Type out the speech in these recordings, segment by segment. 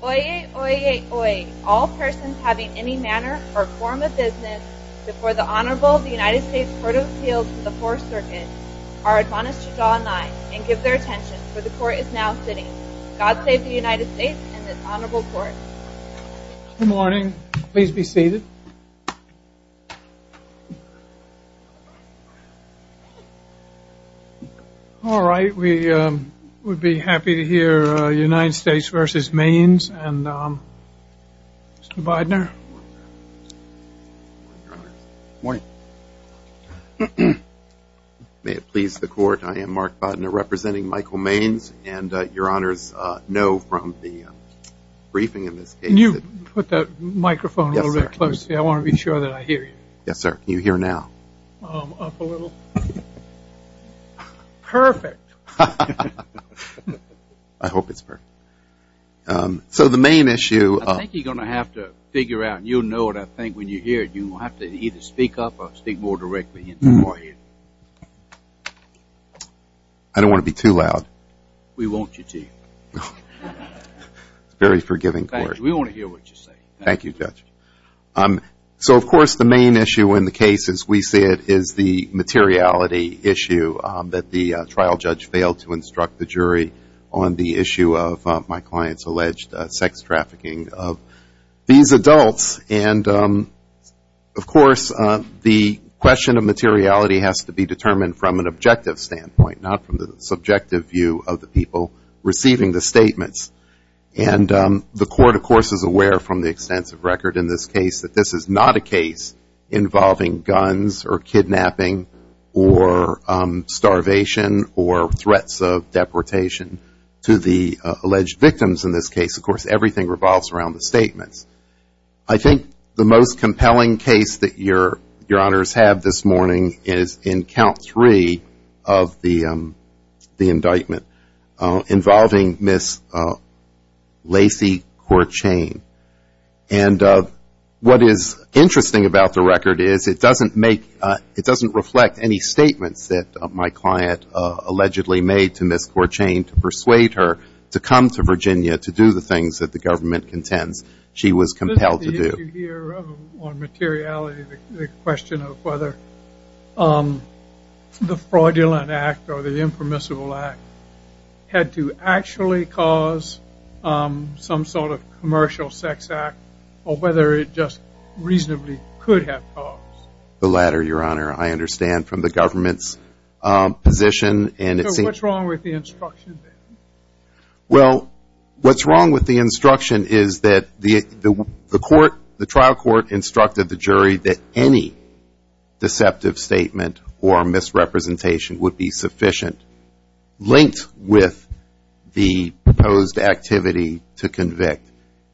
Oyez, oyez, oyez. All persons having any manner or form of business before the Honorable United States Court of Appeals of the Fourth Circuit are admonished to draw a line and give their attention, for the Court is now sitting. God save the United States and this Honorable Court. Good morning. Please be seated. All right, we would be happy to hear United States v. Maynes and Mr. Bidner. Good morning. May it please the Court, I am Mark Bidner representing Michael Maynes and your Honors know from the briefing in this case that I want to be sure that I hear you. Yes, sir. Can you hear now? Up a little. Perfect. I hope it's perfect. So the main issue. I think you are going to have to figure out and you will know what I think when you hear it. You will have to either speak up or speak more directly into my ear. I don't want to be too loud. We want you to. It's a very forgiving court. Thank you. We want to hear what you say. Thank you, Judge. So, of course, the main issue in the case as we see it is the materiality issue that the trial judge failed to instruct the jury on the issue of my client's alleged sex trafficking of these adults. And, of course, the question of materiality has to be determined from an objective standpoint, not from the subjective view of the people receiving the statements. And the court, of course, is aware from the extensive record in this case that this is not a case involving guns or kidnapping or starvation or threats of deportation to the alleged victims in this case. Of course, everything revolves around the statements. I think the most compelling case that your honors have this morning is in count three of the indictment involving Ms. Lacey Courchene. And what is interesting about the record is it doesn't reflect any statements that my client allegedly made to Ms. Courchene to persuade her to come to Virginia to do the things that the government contends she was compelled to do. This is the issue here on materiality, the question of whether the fraudulent act or the impermissible act had to actually cause some sort of commercial sex act or whether it just reasonably could have caused. The latter, your honor, I understand from the government's position. So what's wrong with the instruction then? Well, what's wrong with the instruction is that the trial court instructed the jury that any deceptive statement or misrepresentation would be sufficient linked with the proposed activity to convict.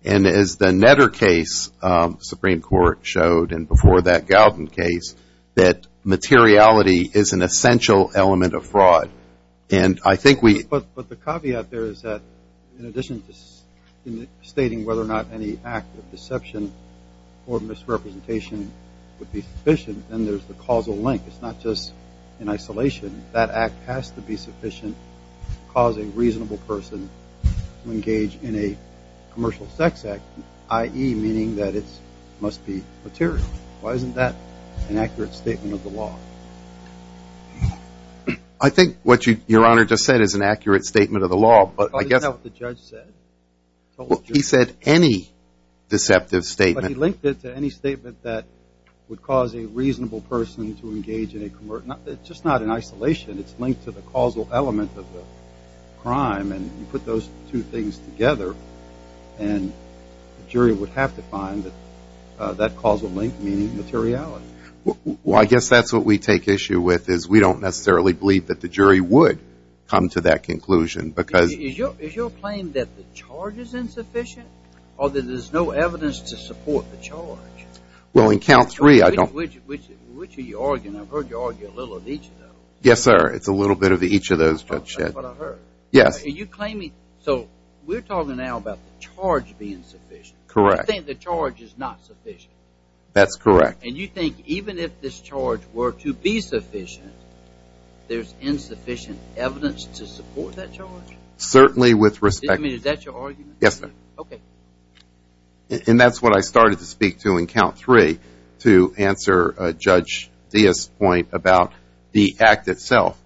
And as the Netter case, the Supreme Court showed, and before that Galvin case, that materiality is an essential element of fraud. But the caveat there is that in addition to stating whether or not any act of deception or misrepresentation would be sufficient, then there's the causal link. It's not just in isolation. That act has to be sufficient to cause a reasonable person to engage in a commercial sex act, i.e., meaning that it must be material. Why isn't that an accurate statement of the law? I think what your honor just said is an accurate statement of the law, but I guess. Isn't that what the judge said? He said any deceptive statement. But he linked it to any statement that would cause a reasonable person to engage in a commercial. It's just not in isolation. It's linked to the causal element of the crime. And you put those two things together, and the jury would have to find that that causal link meaning materiality. Well, I guess that's what we take issue with is we don't necessarily believe that the jury would come to that conclusion because. Is your claim that the charge is insufficient or that there's no evidence to support the charge? Well, in count three, I don't. Which are you arguing? I've heard you argue a little of each of those. Yes, sir. It's a little bit of each of those, Judge Shedd. That's what I heard. Yes. So we're talking now about the charge being sufficient. Correct. You think the charge is not sufficient. That's correct. And you think even if this charge were to be sufficient, there's insufficient evidence to support that charge? Certainly, with respect. I mean, is that your argument? Yes, sir. Okay. And that's what I started to speak to in count three to answer Judge Diaz's point about the act itself.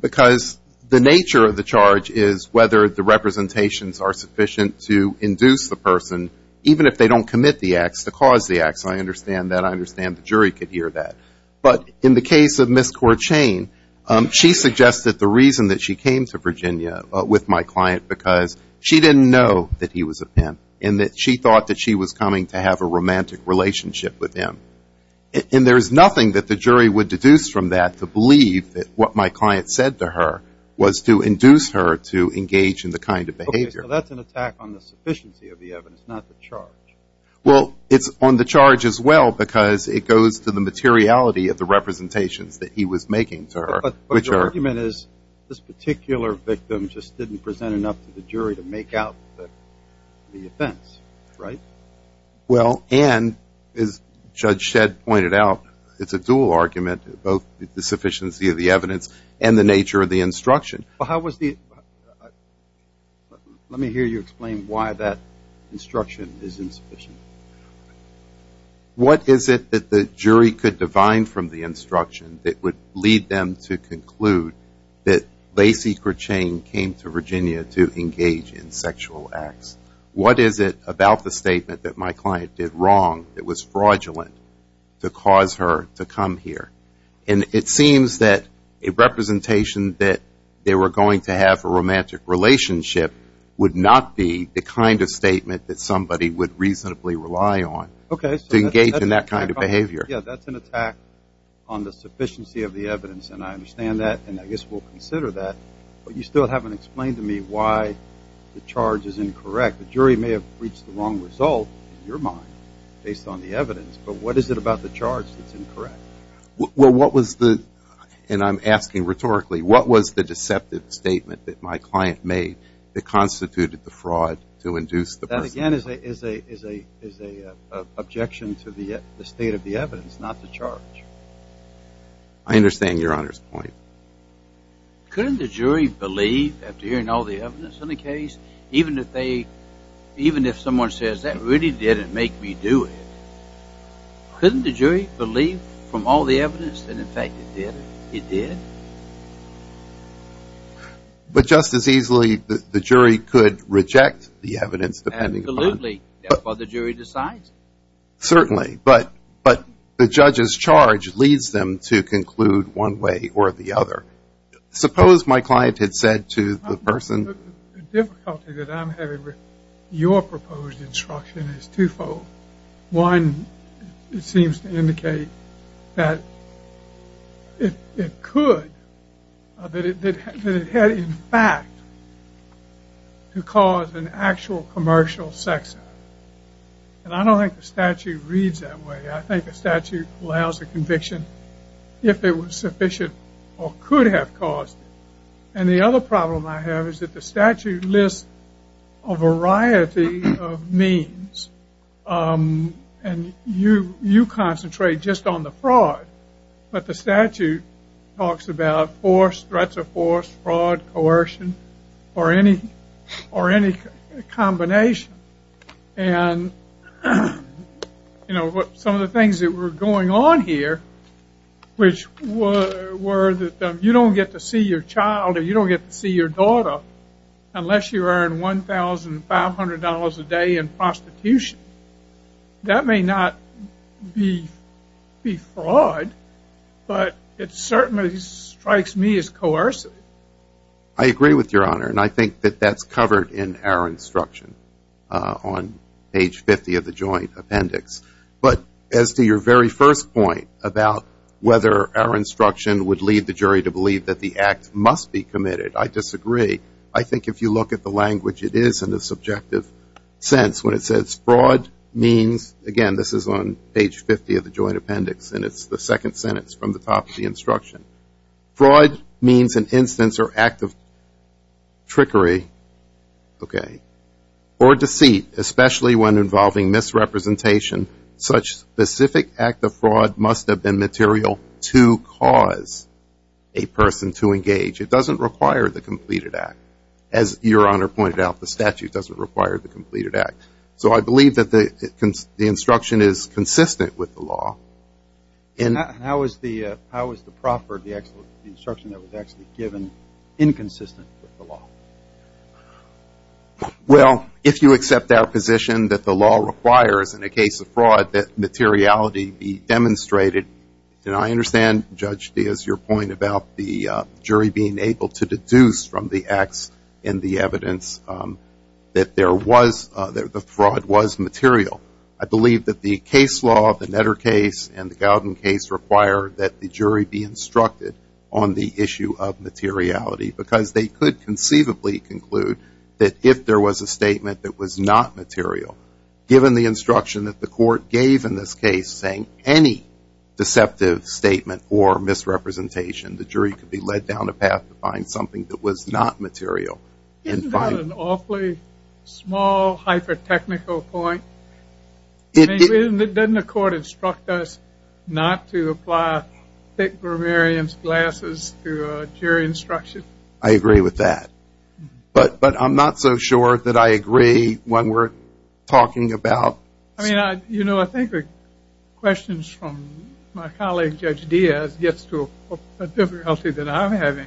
Because the nature of the charge is whether the representations are sufficient to induce the person, even if they don't commit the acts, to cause the acts. I understand that. I understand the jury could hear that. But in the case of Ms. Corchain, she suggested the reason that she came to Virginia with my client, because she didn't know that he was a pimp and that she thought that she was coming to have a romantic relationship with him. And there's nothing that the jury would deduce from that to believe that what my client said to her was to induce her to engage in the kind of behavior. Okay. So that's an attack on the sufficiency of the evidence, not the charge. Well, it's on the charge as well, because it goes to the materiality of the representations that he was making to her. But your argument is this particular victim just didn't present enough to the jury to make out the offense, right? Well, and as Judge Shedd pointed out, it's a dual argument, both the sufficiency of the evidence and the nature of the instruction. Let me hear you explain why that instruction is insufficient. What is it that the jury could divine from the instruction that would lead them to conclude that Lacey Corchain came to Virginia to engage in sexual acts? What is it about the statement that my client did wrong that was fraudulent to cause her to come here? And it seems that a representation that they were going to have a romantic relationship would not be the kind of statement that somebody would reasonably rely on to engage in that kind of behavior. Yeah, that's an attack on the sufficiency of the evidence, and I understand that, and I guess we'll consider that. But you still haven't explained to me why the charge is incorrect. The jury may have reached the wrong result, in your mind, based on the evidence. But what is it about the charge that's incorrect? Well, what was the – and I'm asking rhetorically – what was the deceptive statement that my client made that constituted the fraud to induce the person? That, again, is an objection to the state of the evidence, not the charge. I understand Your Honor's point. Couldn't the jury believe, after hearing all the evidence in the case, even if they – even if someone says, that really didn't make me do it, couldn't the jury believe from all the evidence that, in fact, it did? It did? But just as easily, the jury could reject the evidence, depending upon – Absolutely, that's what the jury decides. Certainly, but the judge's charge leads them to conclude one way or the other. Suppose my client had said to the person – The difficulty that I'm having with your proposed instruction is twofold. One, it seems to indicate that it could – that it had, in fact, to cause an actual commercial sex off. And I don't think the statute reads that way. I think the statute allows a conviction if it was sufficient or could have caused it. And the other problem I have is that the statute lists a variety of means, and you concentrate just on the fraud. But the statute talks about force, threats of force, fraud, coercion, or any combination. And some of the things that were going on here, which were that you don't get to see your child or you don't get to see your daughter unless you earn $1,500 a day in prostitution. That may not be fraud, but it certainly strikes me as coercive. I agree with Your Honor, and I think that that's covered in our instruction on page 50 of the joint appendix. But as to your very first point about whether our instruction would lead the jury to believe that the act must be committed, I disagree. I think if you look at the language, it is in a subjective sense. When it says fraud means – again, this is on page 50 of the joint appendix, and it's the second sentence from the top of the instruction. Fraud means an instance or act of trickery or deceit, especially when involving misrepresentation. Such specific act of fraud must have been material to cause a person to engage. It doesn't require the completed act. As Your Honor pointed out, the statute doesn't require the completed act. So I believe that the instruction is consistent with the law. How is the instruction that was actually given inconsistent with the law? Well, if you accept our position that the law requires in a case of fraud that materiality be demonstrated, then I understand, Judge, as your point about the jury being able to deduce from the acts and the evidence that there was – that the fraud was material. I believe that the case law of the Netter case and the Gowden case require that the jury be instructed on the issue of materiality because they could conceivably conclude that if there was a statement that was not material, given the instruction that the court gave in this case saying any deceptive statement or misrepresentation, the jury could be led down a path to find something that was not material. Isn't that an awfully small, hyper-technical point? Doesn't the court instruct us not to apply thick grammarian's glasses to jury instruction? I agree with that. But I'm not so sure that I agree when we're talking about – I mean, you know, I think the questions from my colleague, Judge Diaz, gets to a difficulty that I'm having.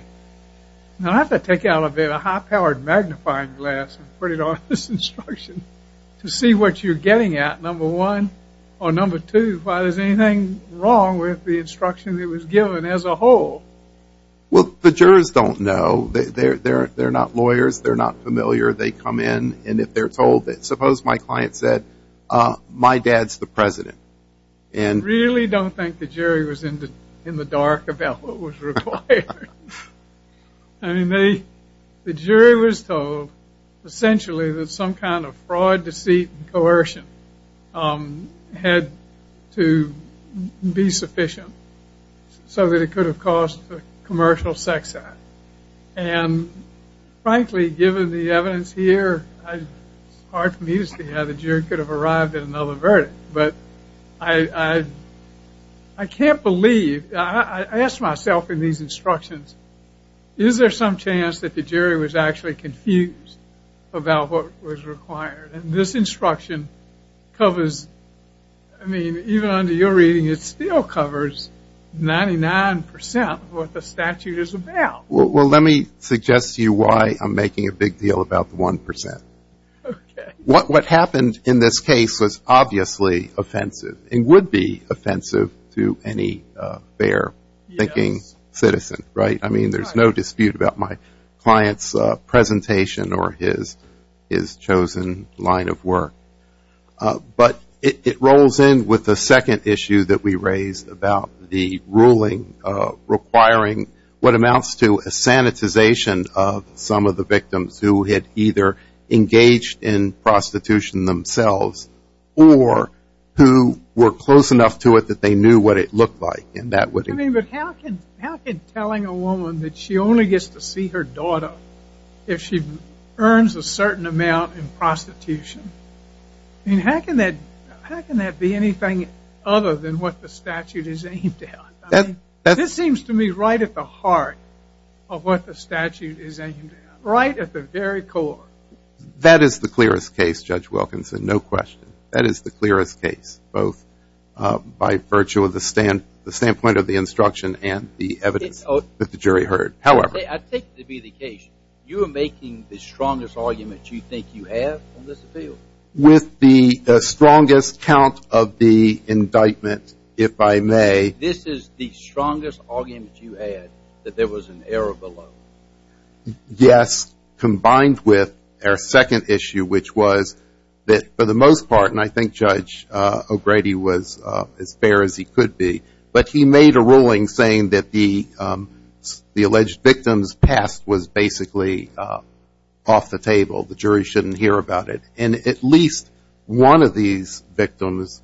Now, I have to take out of it a high-powered magnifying glass and put it on this instruction to see what you're getting at, number one, or number two, why there's anything wrong with the instruction that was given as a whole. Well, the jurors don't know. They're not lawyers. They're not familiar. They come in, and if they're told that – suppose my client said, my dad's the president. I really don't think the jury was in the dark about what was required. I mean, the jury was told essentially that some kind of fraud, deceit, and coercion had to be sufficient so that it could have caused a commercial sex act. And, frankly, given the evidence here, it's hard for me to see how the jury could have arrived at another verdict. But I can't believe – I ask myself in these instructions, is there some chance that the jury was actually confused about what was required? And this instruction covers – I mean, even under your reading, it still covers 99% of what the statute is about. Well, let me suggest to you why I'm making a big deal about the 1%. What happened in this case was obviously offensive and would be offensive to any fair-thinking citizen, right? I mean, there's no dispute about my client's presentation or his chosen line of work. But it rolls in with the second issue that we raised about the ruling requiring what amounts to a sanitization of some of the victims who had either engaged in prostitution themselves or who were close enough to it that they knew what it looked like. I mean, but how can telling a woman that she only gets to see her daughter if she earns a certain amount in prostitution – I mean, how can that be anything other than what the statute is aimed at? I mean, this seems to me right at the heart of what the statute is aimed at, right at the very core. That is the clearest case, Judge Wilkinson, no question. That is the clearest case, both by virtue of the standpoint of the instruction and the evidence that the jury heard. However – I take it to be the case you are making the strongest argument you think you have on this appeal. With the strongest count of the indictment, if I may – This is the strongest argument you had that there was an error below. Yes, combined with our second issue, which was that for the most part – and I think Judge O'Grady was as fair as he could be – but he made a ruling saying that the alleged victim's past was basically off the table, the jury shouldn't hear about it. And at least one of these victims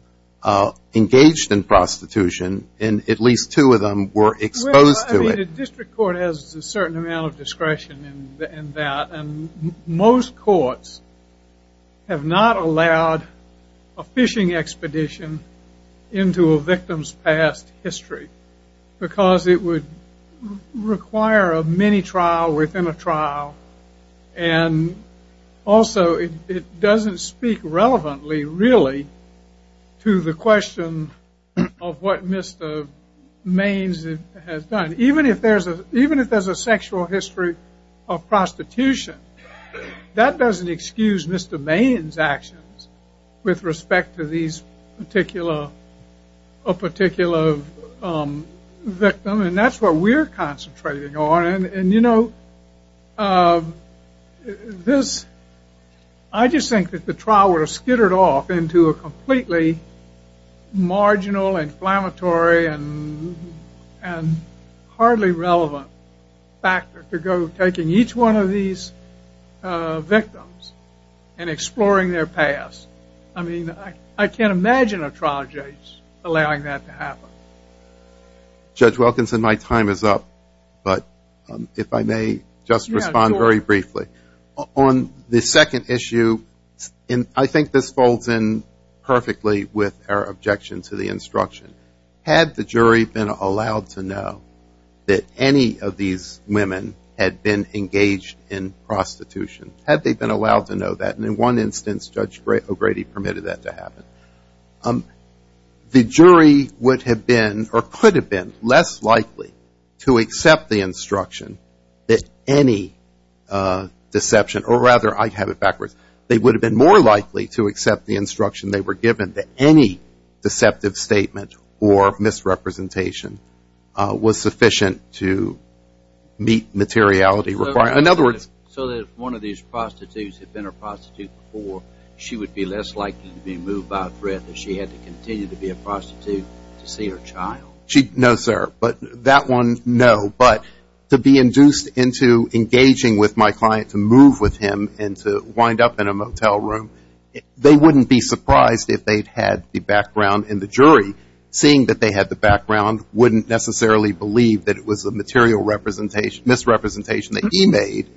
engaged in prostitution, and at least two of them were exposed to it. I think the district court has a certain amount of discretion in that, and most courts have not allowed a fishing expedition into a victim's past history, because it would require a mini-trial within a trial, and also it doesn't speak relevantly, really, to the question of what Mr. Maines has done. Even if there's a sexual history of prostitution, that doesn't excuse Mr. Maines' actions with respect to a particular victim, and that's what we're concentrating on. And, you know, I just think that the trial would have skittered off into a completely marginal, inflammatory, and hardly relevant factor to go taking each one of these victims and exploring their past. I mean, I can't imagine a trial judge allowing that to happen. Judge Wilkinson, my time is up, but if I may just respond very briefly. On the second issue, I think this folds in perfectly with our objection to the instruction. Had the jury been allowed to know that any of these women had been engaged in prostitution, had they been allowed to know that, and in one instance Judge O'Grady permitted that to happen, the jury would have been or could have been less likely to accept the instruction that any deception, or rather I have it backwards, they would have been more likely to accept the instruction they were given that any deceptive statement or misrepresentation was sufficient to meet materiality requirements. So that if one of these prostitutes had been a prostitute before, she would be less likely to be moved by a threat that she had to continue to be a prostitute to see her child. No, sir. But that one, no. But to be induced into engaging with my client to move with him and to wind up in a motel room, they wouldn't be surprised if they had the background in the jury. And seeing that they had the background wouldn't necessarily believe that it was a material misrepresentation that he made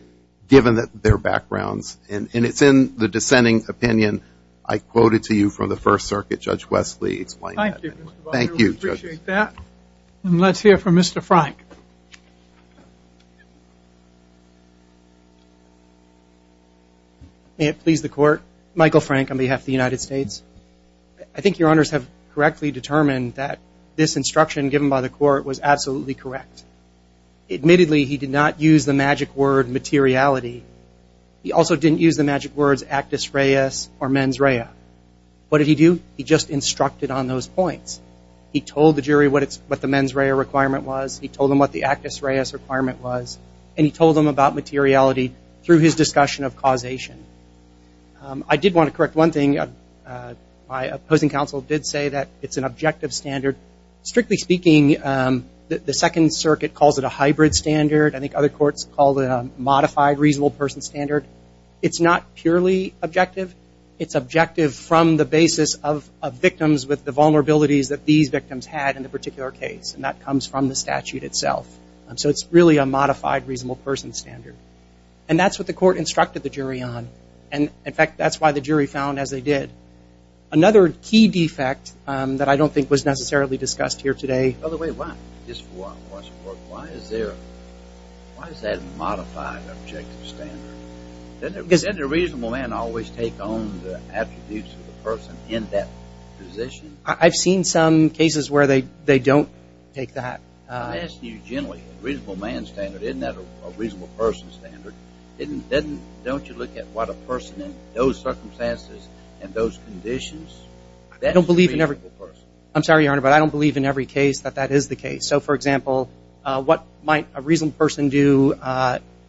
given their backgrounds. And it's in the dissenting opinion I quoted to you from the First Circuit. Judge Wesley explained that. Thank you. We appreciate that. And let's hear from Mr. Frank. May it please the Court. Michael Frank on behalf of the United States. I think Your Honors have correctly determined that this instruction given by the Court was absolutely correct. Admittedly, he did not use the magic word materiality. He also didn't use the magic words actus reus or mens rea. What did he do? He just instructed on those points. He told the jury what the mens rea requirement was. He told them what the actus reus requirement was. And he told them about materiality through his discussion of causation. I did want to correct one thing. My opposing counsel did say that it's an objective standard. Strictly speaking, the Second Circuit calls it a hybrid standard. I think other courts call it a modified reasonable person standard. It's not purely objective. It's objective from the basis of victims with the vulnerabilities that these victims had in the particular case. And that comes from the statute itself. So it's really a modified reasonable person standard. And that's what the court instructed the jury on. And, in fact, that's why the jury found as they did. Another key defect that I don't think was necessarily discussed here today. By the way, why? Just for our question, why is there a modified objective standard? Doesn't a reasonable man always take on the attributes of the person in that position? I've seen some cases where they don't take that. I'm asking you generally, a reasonable man standard, isn't that a reasonable person standard? Don't you look at what a person in those circumstances and those conditions, that's a reasonable person? I'm sorry, Your Honor, but I don't believe in every case that that is the case. So, for example, what might a reasonable person do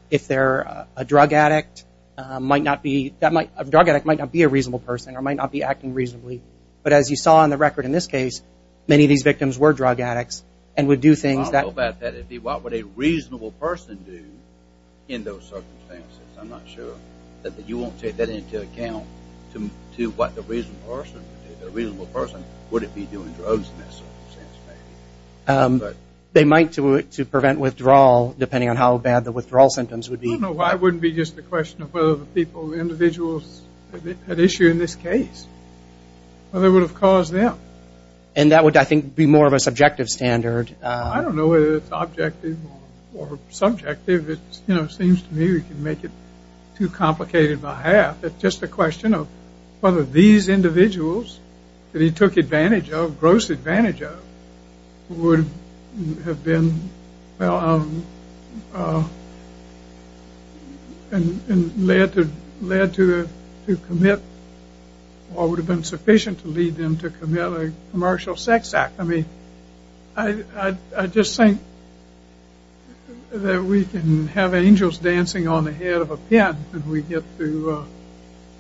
if they're a drug addict? A drug addict might not be a reasonable person or might not be acting reasonably. But as you saw on the record in this case, many of these victims were drug addicts and would do things that- I don't know about that. What would a reasonable person do in those circumstances? I'm not sure. You won't take that into account to what the reasonable person would do. The reasonable person, would it be doing drugs in that circumstance? They might do it to prevent withdrawal, depending on how bad the withdrawal symptoms would be. I don't know why it wouldn't be just a question of whether the individuals at issue in this case, whether it would have caused them. And that would, I think, be more of a subjective standard. I don't know whether it's objective or subjective. It seems to me we can make it too complicated by half. It's just a question of whether these individuals that he took advantage of, gross advantage of, would have been- and led to commit or would have been sufficient to lead them to commit a commercial sex act. I just think that we can have angels dancing on the head of a pen and we get to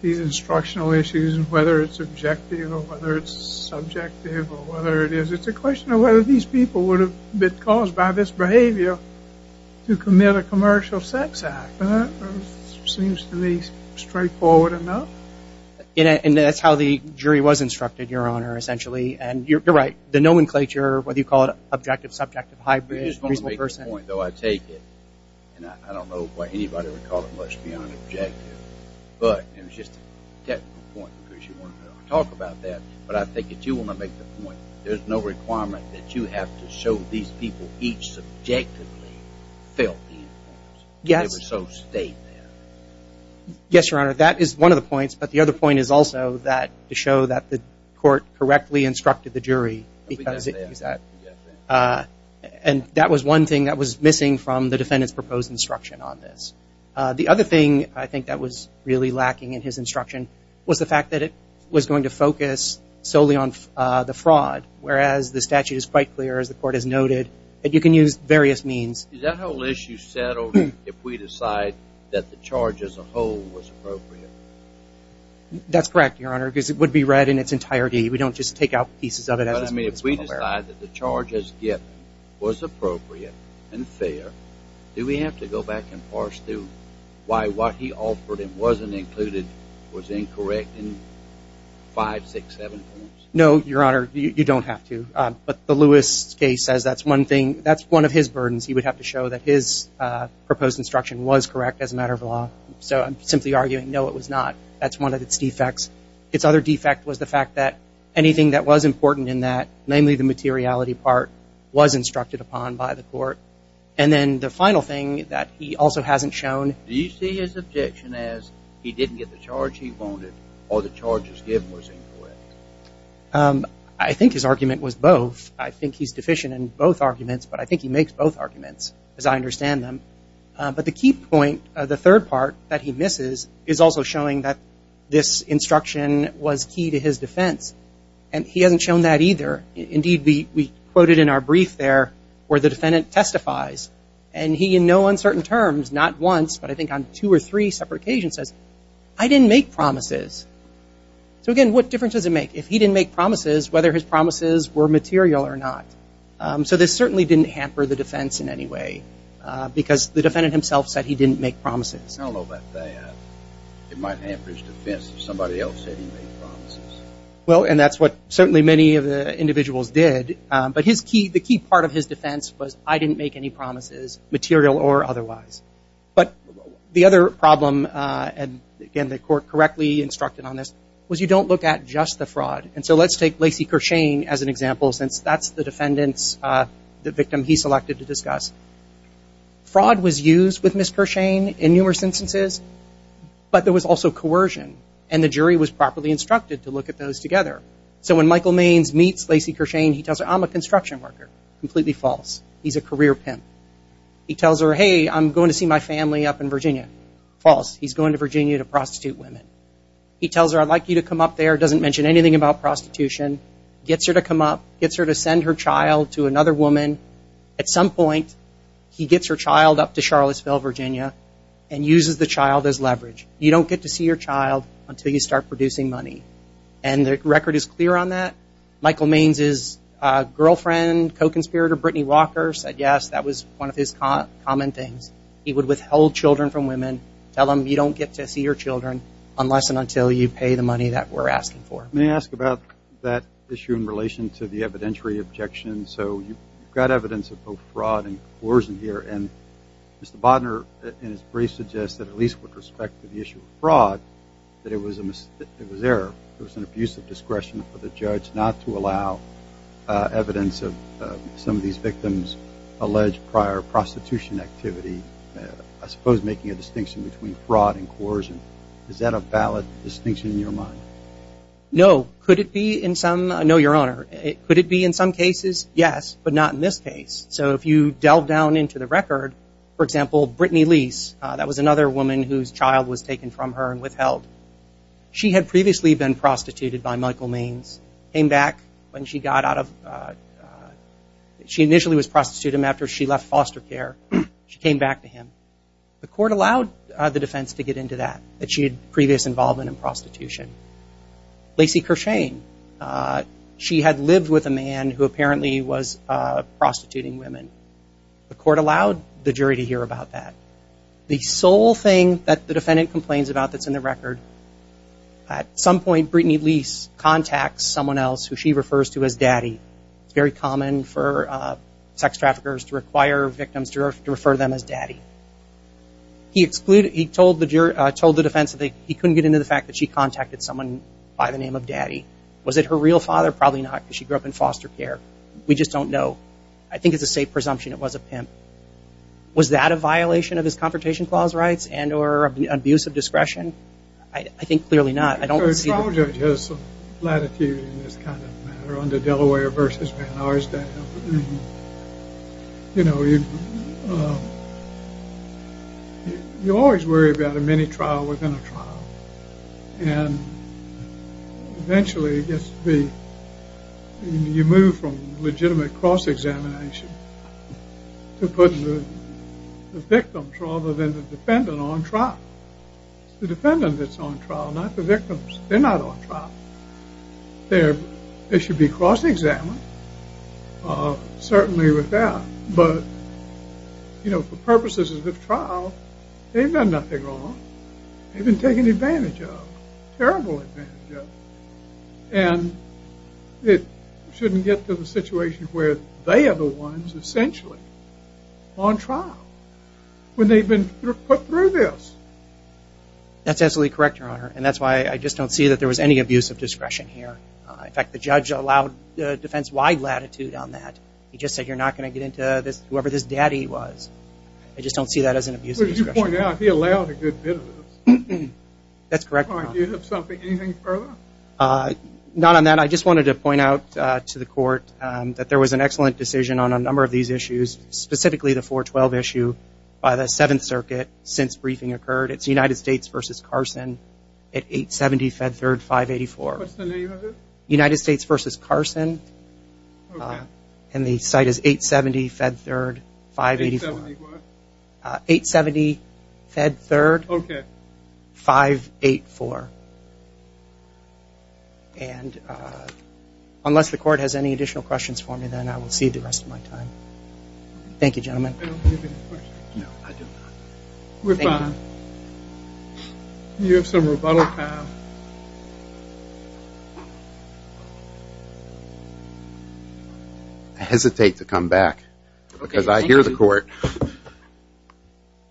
these instructional issues and whether it's objective or whether it's subjective or whether it is. It's a question of whether these people would have been caused by this behavior to commit a commercial sex act. It seems to me straightforward enough. And that's how the jury was instructed, Your Honor, essentially. And you're right. The nomenclature, whether you call it objective, subjective, high- I just want to make a point, though. I take it, and I don't know why anybody would call it much beyond objective, but it was just a technical point because you wanted to talk about that. But I think if you want to make the point, there's no requirement that you have to show these people each subjectively felt the influence. Yes. They were so stated. Yes, Your Honor. That is one of the points. But the other point is also that to show that the court correctly instructed the jury. And that was one thing that was missing from the defendant's proposed instruction on this. The other thing I think that was really lacking in his instruction was the fact that it was going to focus solely on the fraud, whereas the statute is quite clear, as the court has noted, that you can use various means. Is that whole issue settled if we decide that the charge as a whole was appropriate? That's correct, Your Honor, because it would be read in its entirety. We don't just take out pieces of it. But, I mean, if we decide that the charge as given was appropriate and fair, do we have to go back and parse through why what he offered and wasn't included was incorrect in five, six, seven points? No, Your Honor. You don't have to. But the Lewis case says that's one thing. That's one of his burdens. He would have to show that his proposed instruction was correct as a matter of law. So I'm simply arguing no, it was not. That's one of its defects. Its other defect was the fact that anything that was important in that, namely the materiality part, was instructed upon by the court. And then the final thing that he also hasn't shown. Do you see his objection as he didn't get the charge he wanted or the charge as given was incorrect? I think his argument was both. I think he's deficient in both arguments. But I think he makes both arguments, as I understand them. But the key point, the third part that he misses, is also showing that this instruction was key to his defense. And he hasn't shown that either. Indeed, we quoted in our brief there where the defendant testifies. And he, in no uncertain terms, not once, but I think on two or three separate occasions, says, I didn't make promises. So, again, what difference does it make? If he didn't make promises, whether his promises were material or not. So this certainly didn't hamper the defense in any way because the defendant himself said he didn't make promises. I don't know about that. It might hamper his defense if somebody else said he made promises. Well, and that's what certainly many of the individuals did. But the key part of his defense was, I didn't make any promises, material or otherwise. But the other problem, and, again, the court correctly instructed on this, was you don't look at just the fraud. And so let's take Lacey Kershane as an example, since that's the defendant's, the victim he selected to discuss. Fraud was used with Ms. Kershane in numerous instances, but there was also coercion. And the jury was properly instructed to look at those together. So when Michael Mains meets Lacey Kershane, he tells her, I'm a construction worker. Completely false. He's a career pimp. He tells her, hey, I'm going to see my family up in Virginia. False. He's going to Virginia to prostitute women. He tells her, I'd like you to come up there. Doesn't mention anything about prostitution. Gets her to come up. Gets her to send her child to another woman. At some point, he gets her child up to Charlottesville, Virginia, and uses the child as leverage. You don't get to see your child until you start producing money. And the record is clear on that. Michael Mains' girlfriend, co-conspirator Brittany Walker said, yes, that was one of his common things. He would withhold children from women, tell them you don't get to see your children unless and until you pay the money that we're asking for. Let me ask about that issue in relation to the evidentiary objection. So you've got evidence of both fraud and coercion here. And Mr. Bodner in his brief suggested, at least with respect to the issue of fraud, that it was error. It was an abuse of discretion for the judge not to allow evidence of some of these victims' alleged prior prostitution activity. I suppose making a distinction between fraud and coercion. Is that a valid distinction in your mind? No. Could it be in some? No, Your Honor. Could it be in some cases? Yes, but not in this case. So if you delve down into the record, for example, Brittany Lease, that was another woman whose child was taken from her and withheld. She had previously been prostituted by Michael Mains. Came back when she got out of, she initially was prostituted after she left foster care. She came back to him. The court allowed the defense to get into that, that she had previous involvement in prostitution. Lacey Kershane, she had lived with a man who apparently was prostituting women. The court allowed the jury to hear about that. The sole thing that the defendant complains about that's in the record, at some point Brittany Lease contacts someone else who she refers to as Daddy. It's very common for sex traffickers to require victims to refer to them as Daddy. He told the defense that he couldn't get into the fact that she contacted someone by the name of Daddy. Was it her real father? Probably not because she grew up in foster care. We just don't know. I think it's a safe presumption it was a pimp. Was that a violation of his Confrontation Clause rights and or abuse of discretion? I think clearly not. The trial judge has some latitude in this kind of matter under Delaware v. Van Arsdale. You always worry about a mini-trial within a trial. And eventually it gets to be, you move from legitimate cross-examination to putting the victims rather than the defendant on trial. It's the defendant that's on trial, not the victims. They're not on trial. They should be cross-examined, certainly with that. But, you know, for purposes of the trial, they've done nothing wrong. They've been taken advantage of, terrible advantage of. And it shouldn't get to the situation where they are the ones essentially on trial when they've been put through this. That's absolutely correct, Your Honor. And that's why I just don't see that there was any abuse of discretion here. In fact, the judge allowed defense-wide latitude on that. He just said you're not going to get into whoever this Daddy was. I just don't see that as an abuse of discretion. I just want to point out he allowed a good bit of this. That's correct, Your Honor. Do you have anything further? Not on that. I just wanted to point out to the Court that there was an excellent decision on a number of these issues, specifically the 412 issue by the Seventh Circuit since briefing occurred. It's United States v. Carson at 870 Fed Third 584. What's the name of it? United States v. Carson. Okay. And the site is 870 Fed Third 584. 870 what? 870 Fed Third 584. And unless the Court has any additional questions for me, then I will cede the rest of my time. Thank you, gentlemen. You have some rebuttal time. I hesitate to come back because I hear the Court.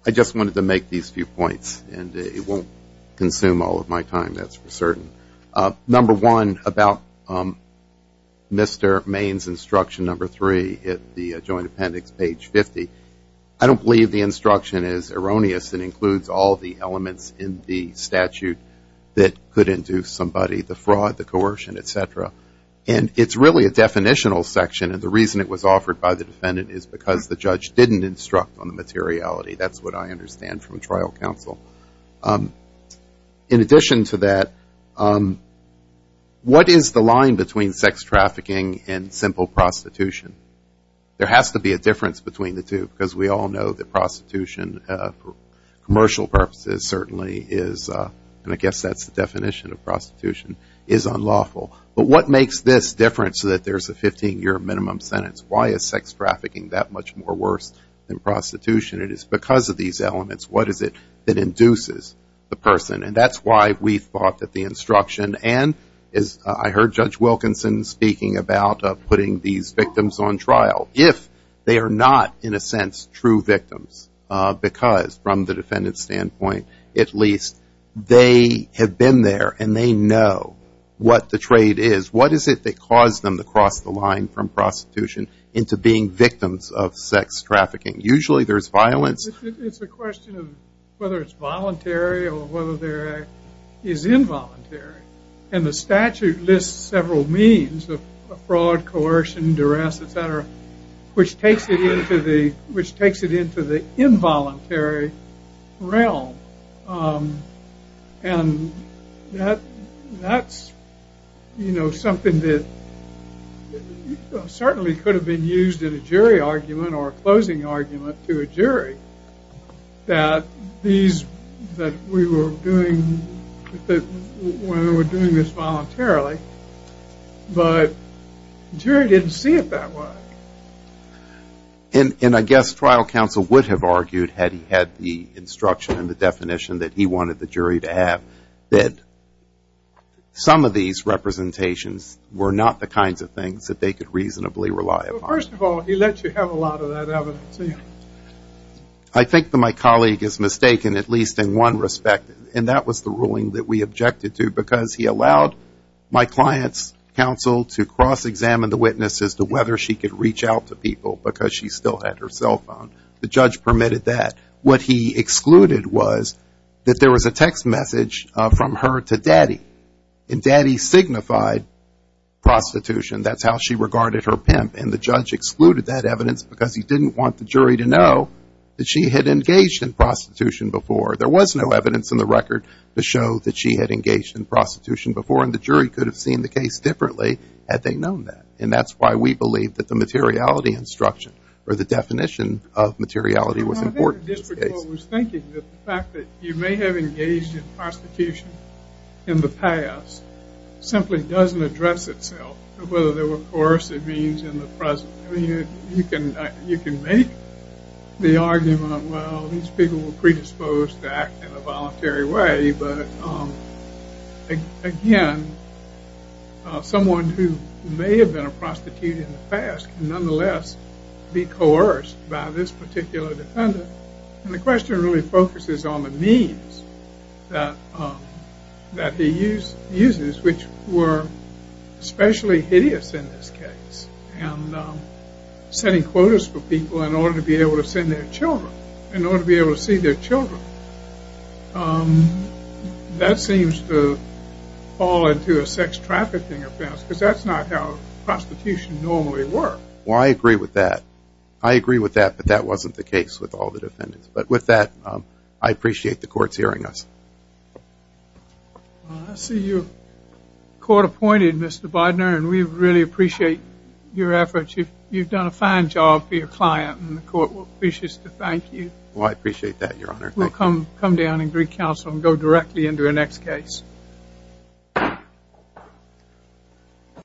I just wanted to make these few points, and it won't consume all of my time, that's for certain. Number one, about Mr. Maine's instruction number three at the Joint Appendix, page 50, I don't believe the instruction is erroneous. It includes all the elements in the statute that could induce somebody, the fraud, the coercion, et cetera. And it's really a definitional section, and the reason it was offered by the defendant is because the judge didn't instruct on the materiality. That's what I understand from trial counsel. In addition to that, what is the line between sex trafficking and simple prostitution? There has to be a difference between the two because we all know that prostitution for commercial purposes certainly is, and I guess that's the definition of prostitution, is unlawful. But what makes this different so that there's a 15-year minimum sentence? Why is sex trafficking that much more worse than prostitution? It is because of these elements. What is it that induces the person? And that's why we thought that the instruction, and as I heard Judge Wilkinson speaking about putting these victims on trial, if they are not, in a sense, true victims because, from the defendant's standpoint at least, they have been there and they know what the trade is, what is it that caused them to cross the line from prostitution into being victims of sex trafficking? Usually there's violence. It's a question of whether it's voluntary or whether there is involuntary. And the statute lists several means of fraud, coercion, duress, et cetera, which takes it into the involuntary realm. And that's something that certainly could have been used in a jury argument or a closing argument to a jury that we were doing this voluntarily, but the jury didn't see it that way. And I guess trial counsel would have argued, had he had the instruction and the definition that he wanted the jury to have, that some of these representations were not the kinds of things that they could reasonably rely upon. Well, first of all, he lets you have a lot of that evidence. I think that my colleague is mistaken at least in one respect, and that was the ruling that we objected to because he allowed my client's counsel to cross-examine the witness as to whether she could reach out to people because she still had her cell phone. The judge permitted that. What he excluded was that there was a text message from her to Daddy, and Daddy signified prostitution. That's how she regarded her pimp, and the judge excluded that evidence because he didn't want the jury to know that she had engaged in prostitution before. There was no evidence in the record to show that she had engaged in prostitution before, and the jury could have seen the case differently had they known that. And that's why we believe that the materiality instruction or the definition of materiality was important in this case. I think the district court was thinking that the fact that you may have engaged in prostitution in the past simply doesn't address itself, whether there were coercive means in the present. I mean, you can make the argument, well, these people were predisposed to act in a voluntary way, but again, someone who may have been a prostitute in the past can nonetheless be coerced by this particular defendant. And the question really focuses on the means that he uses, which were especially hideous in this case. And setting quotas for people in order to be able to send their children, in order to be able to see their children, that seems to fall into a sex trafficking offense because that's not how prostitution normally works. Well, I agree with that. I agree with that, but that wasn't the case with all the defendants. But with that, I appreciate the court's hearing us. Well, I see you're court-appointed, Mr. Bidner, and we really appreciate your efforts. You've done a fine job for your client, and the court wishes to thank you. Well, I appreciate that, Your Honor. We'll come down and greet counsel and go directly into our next case.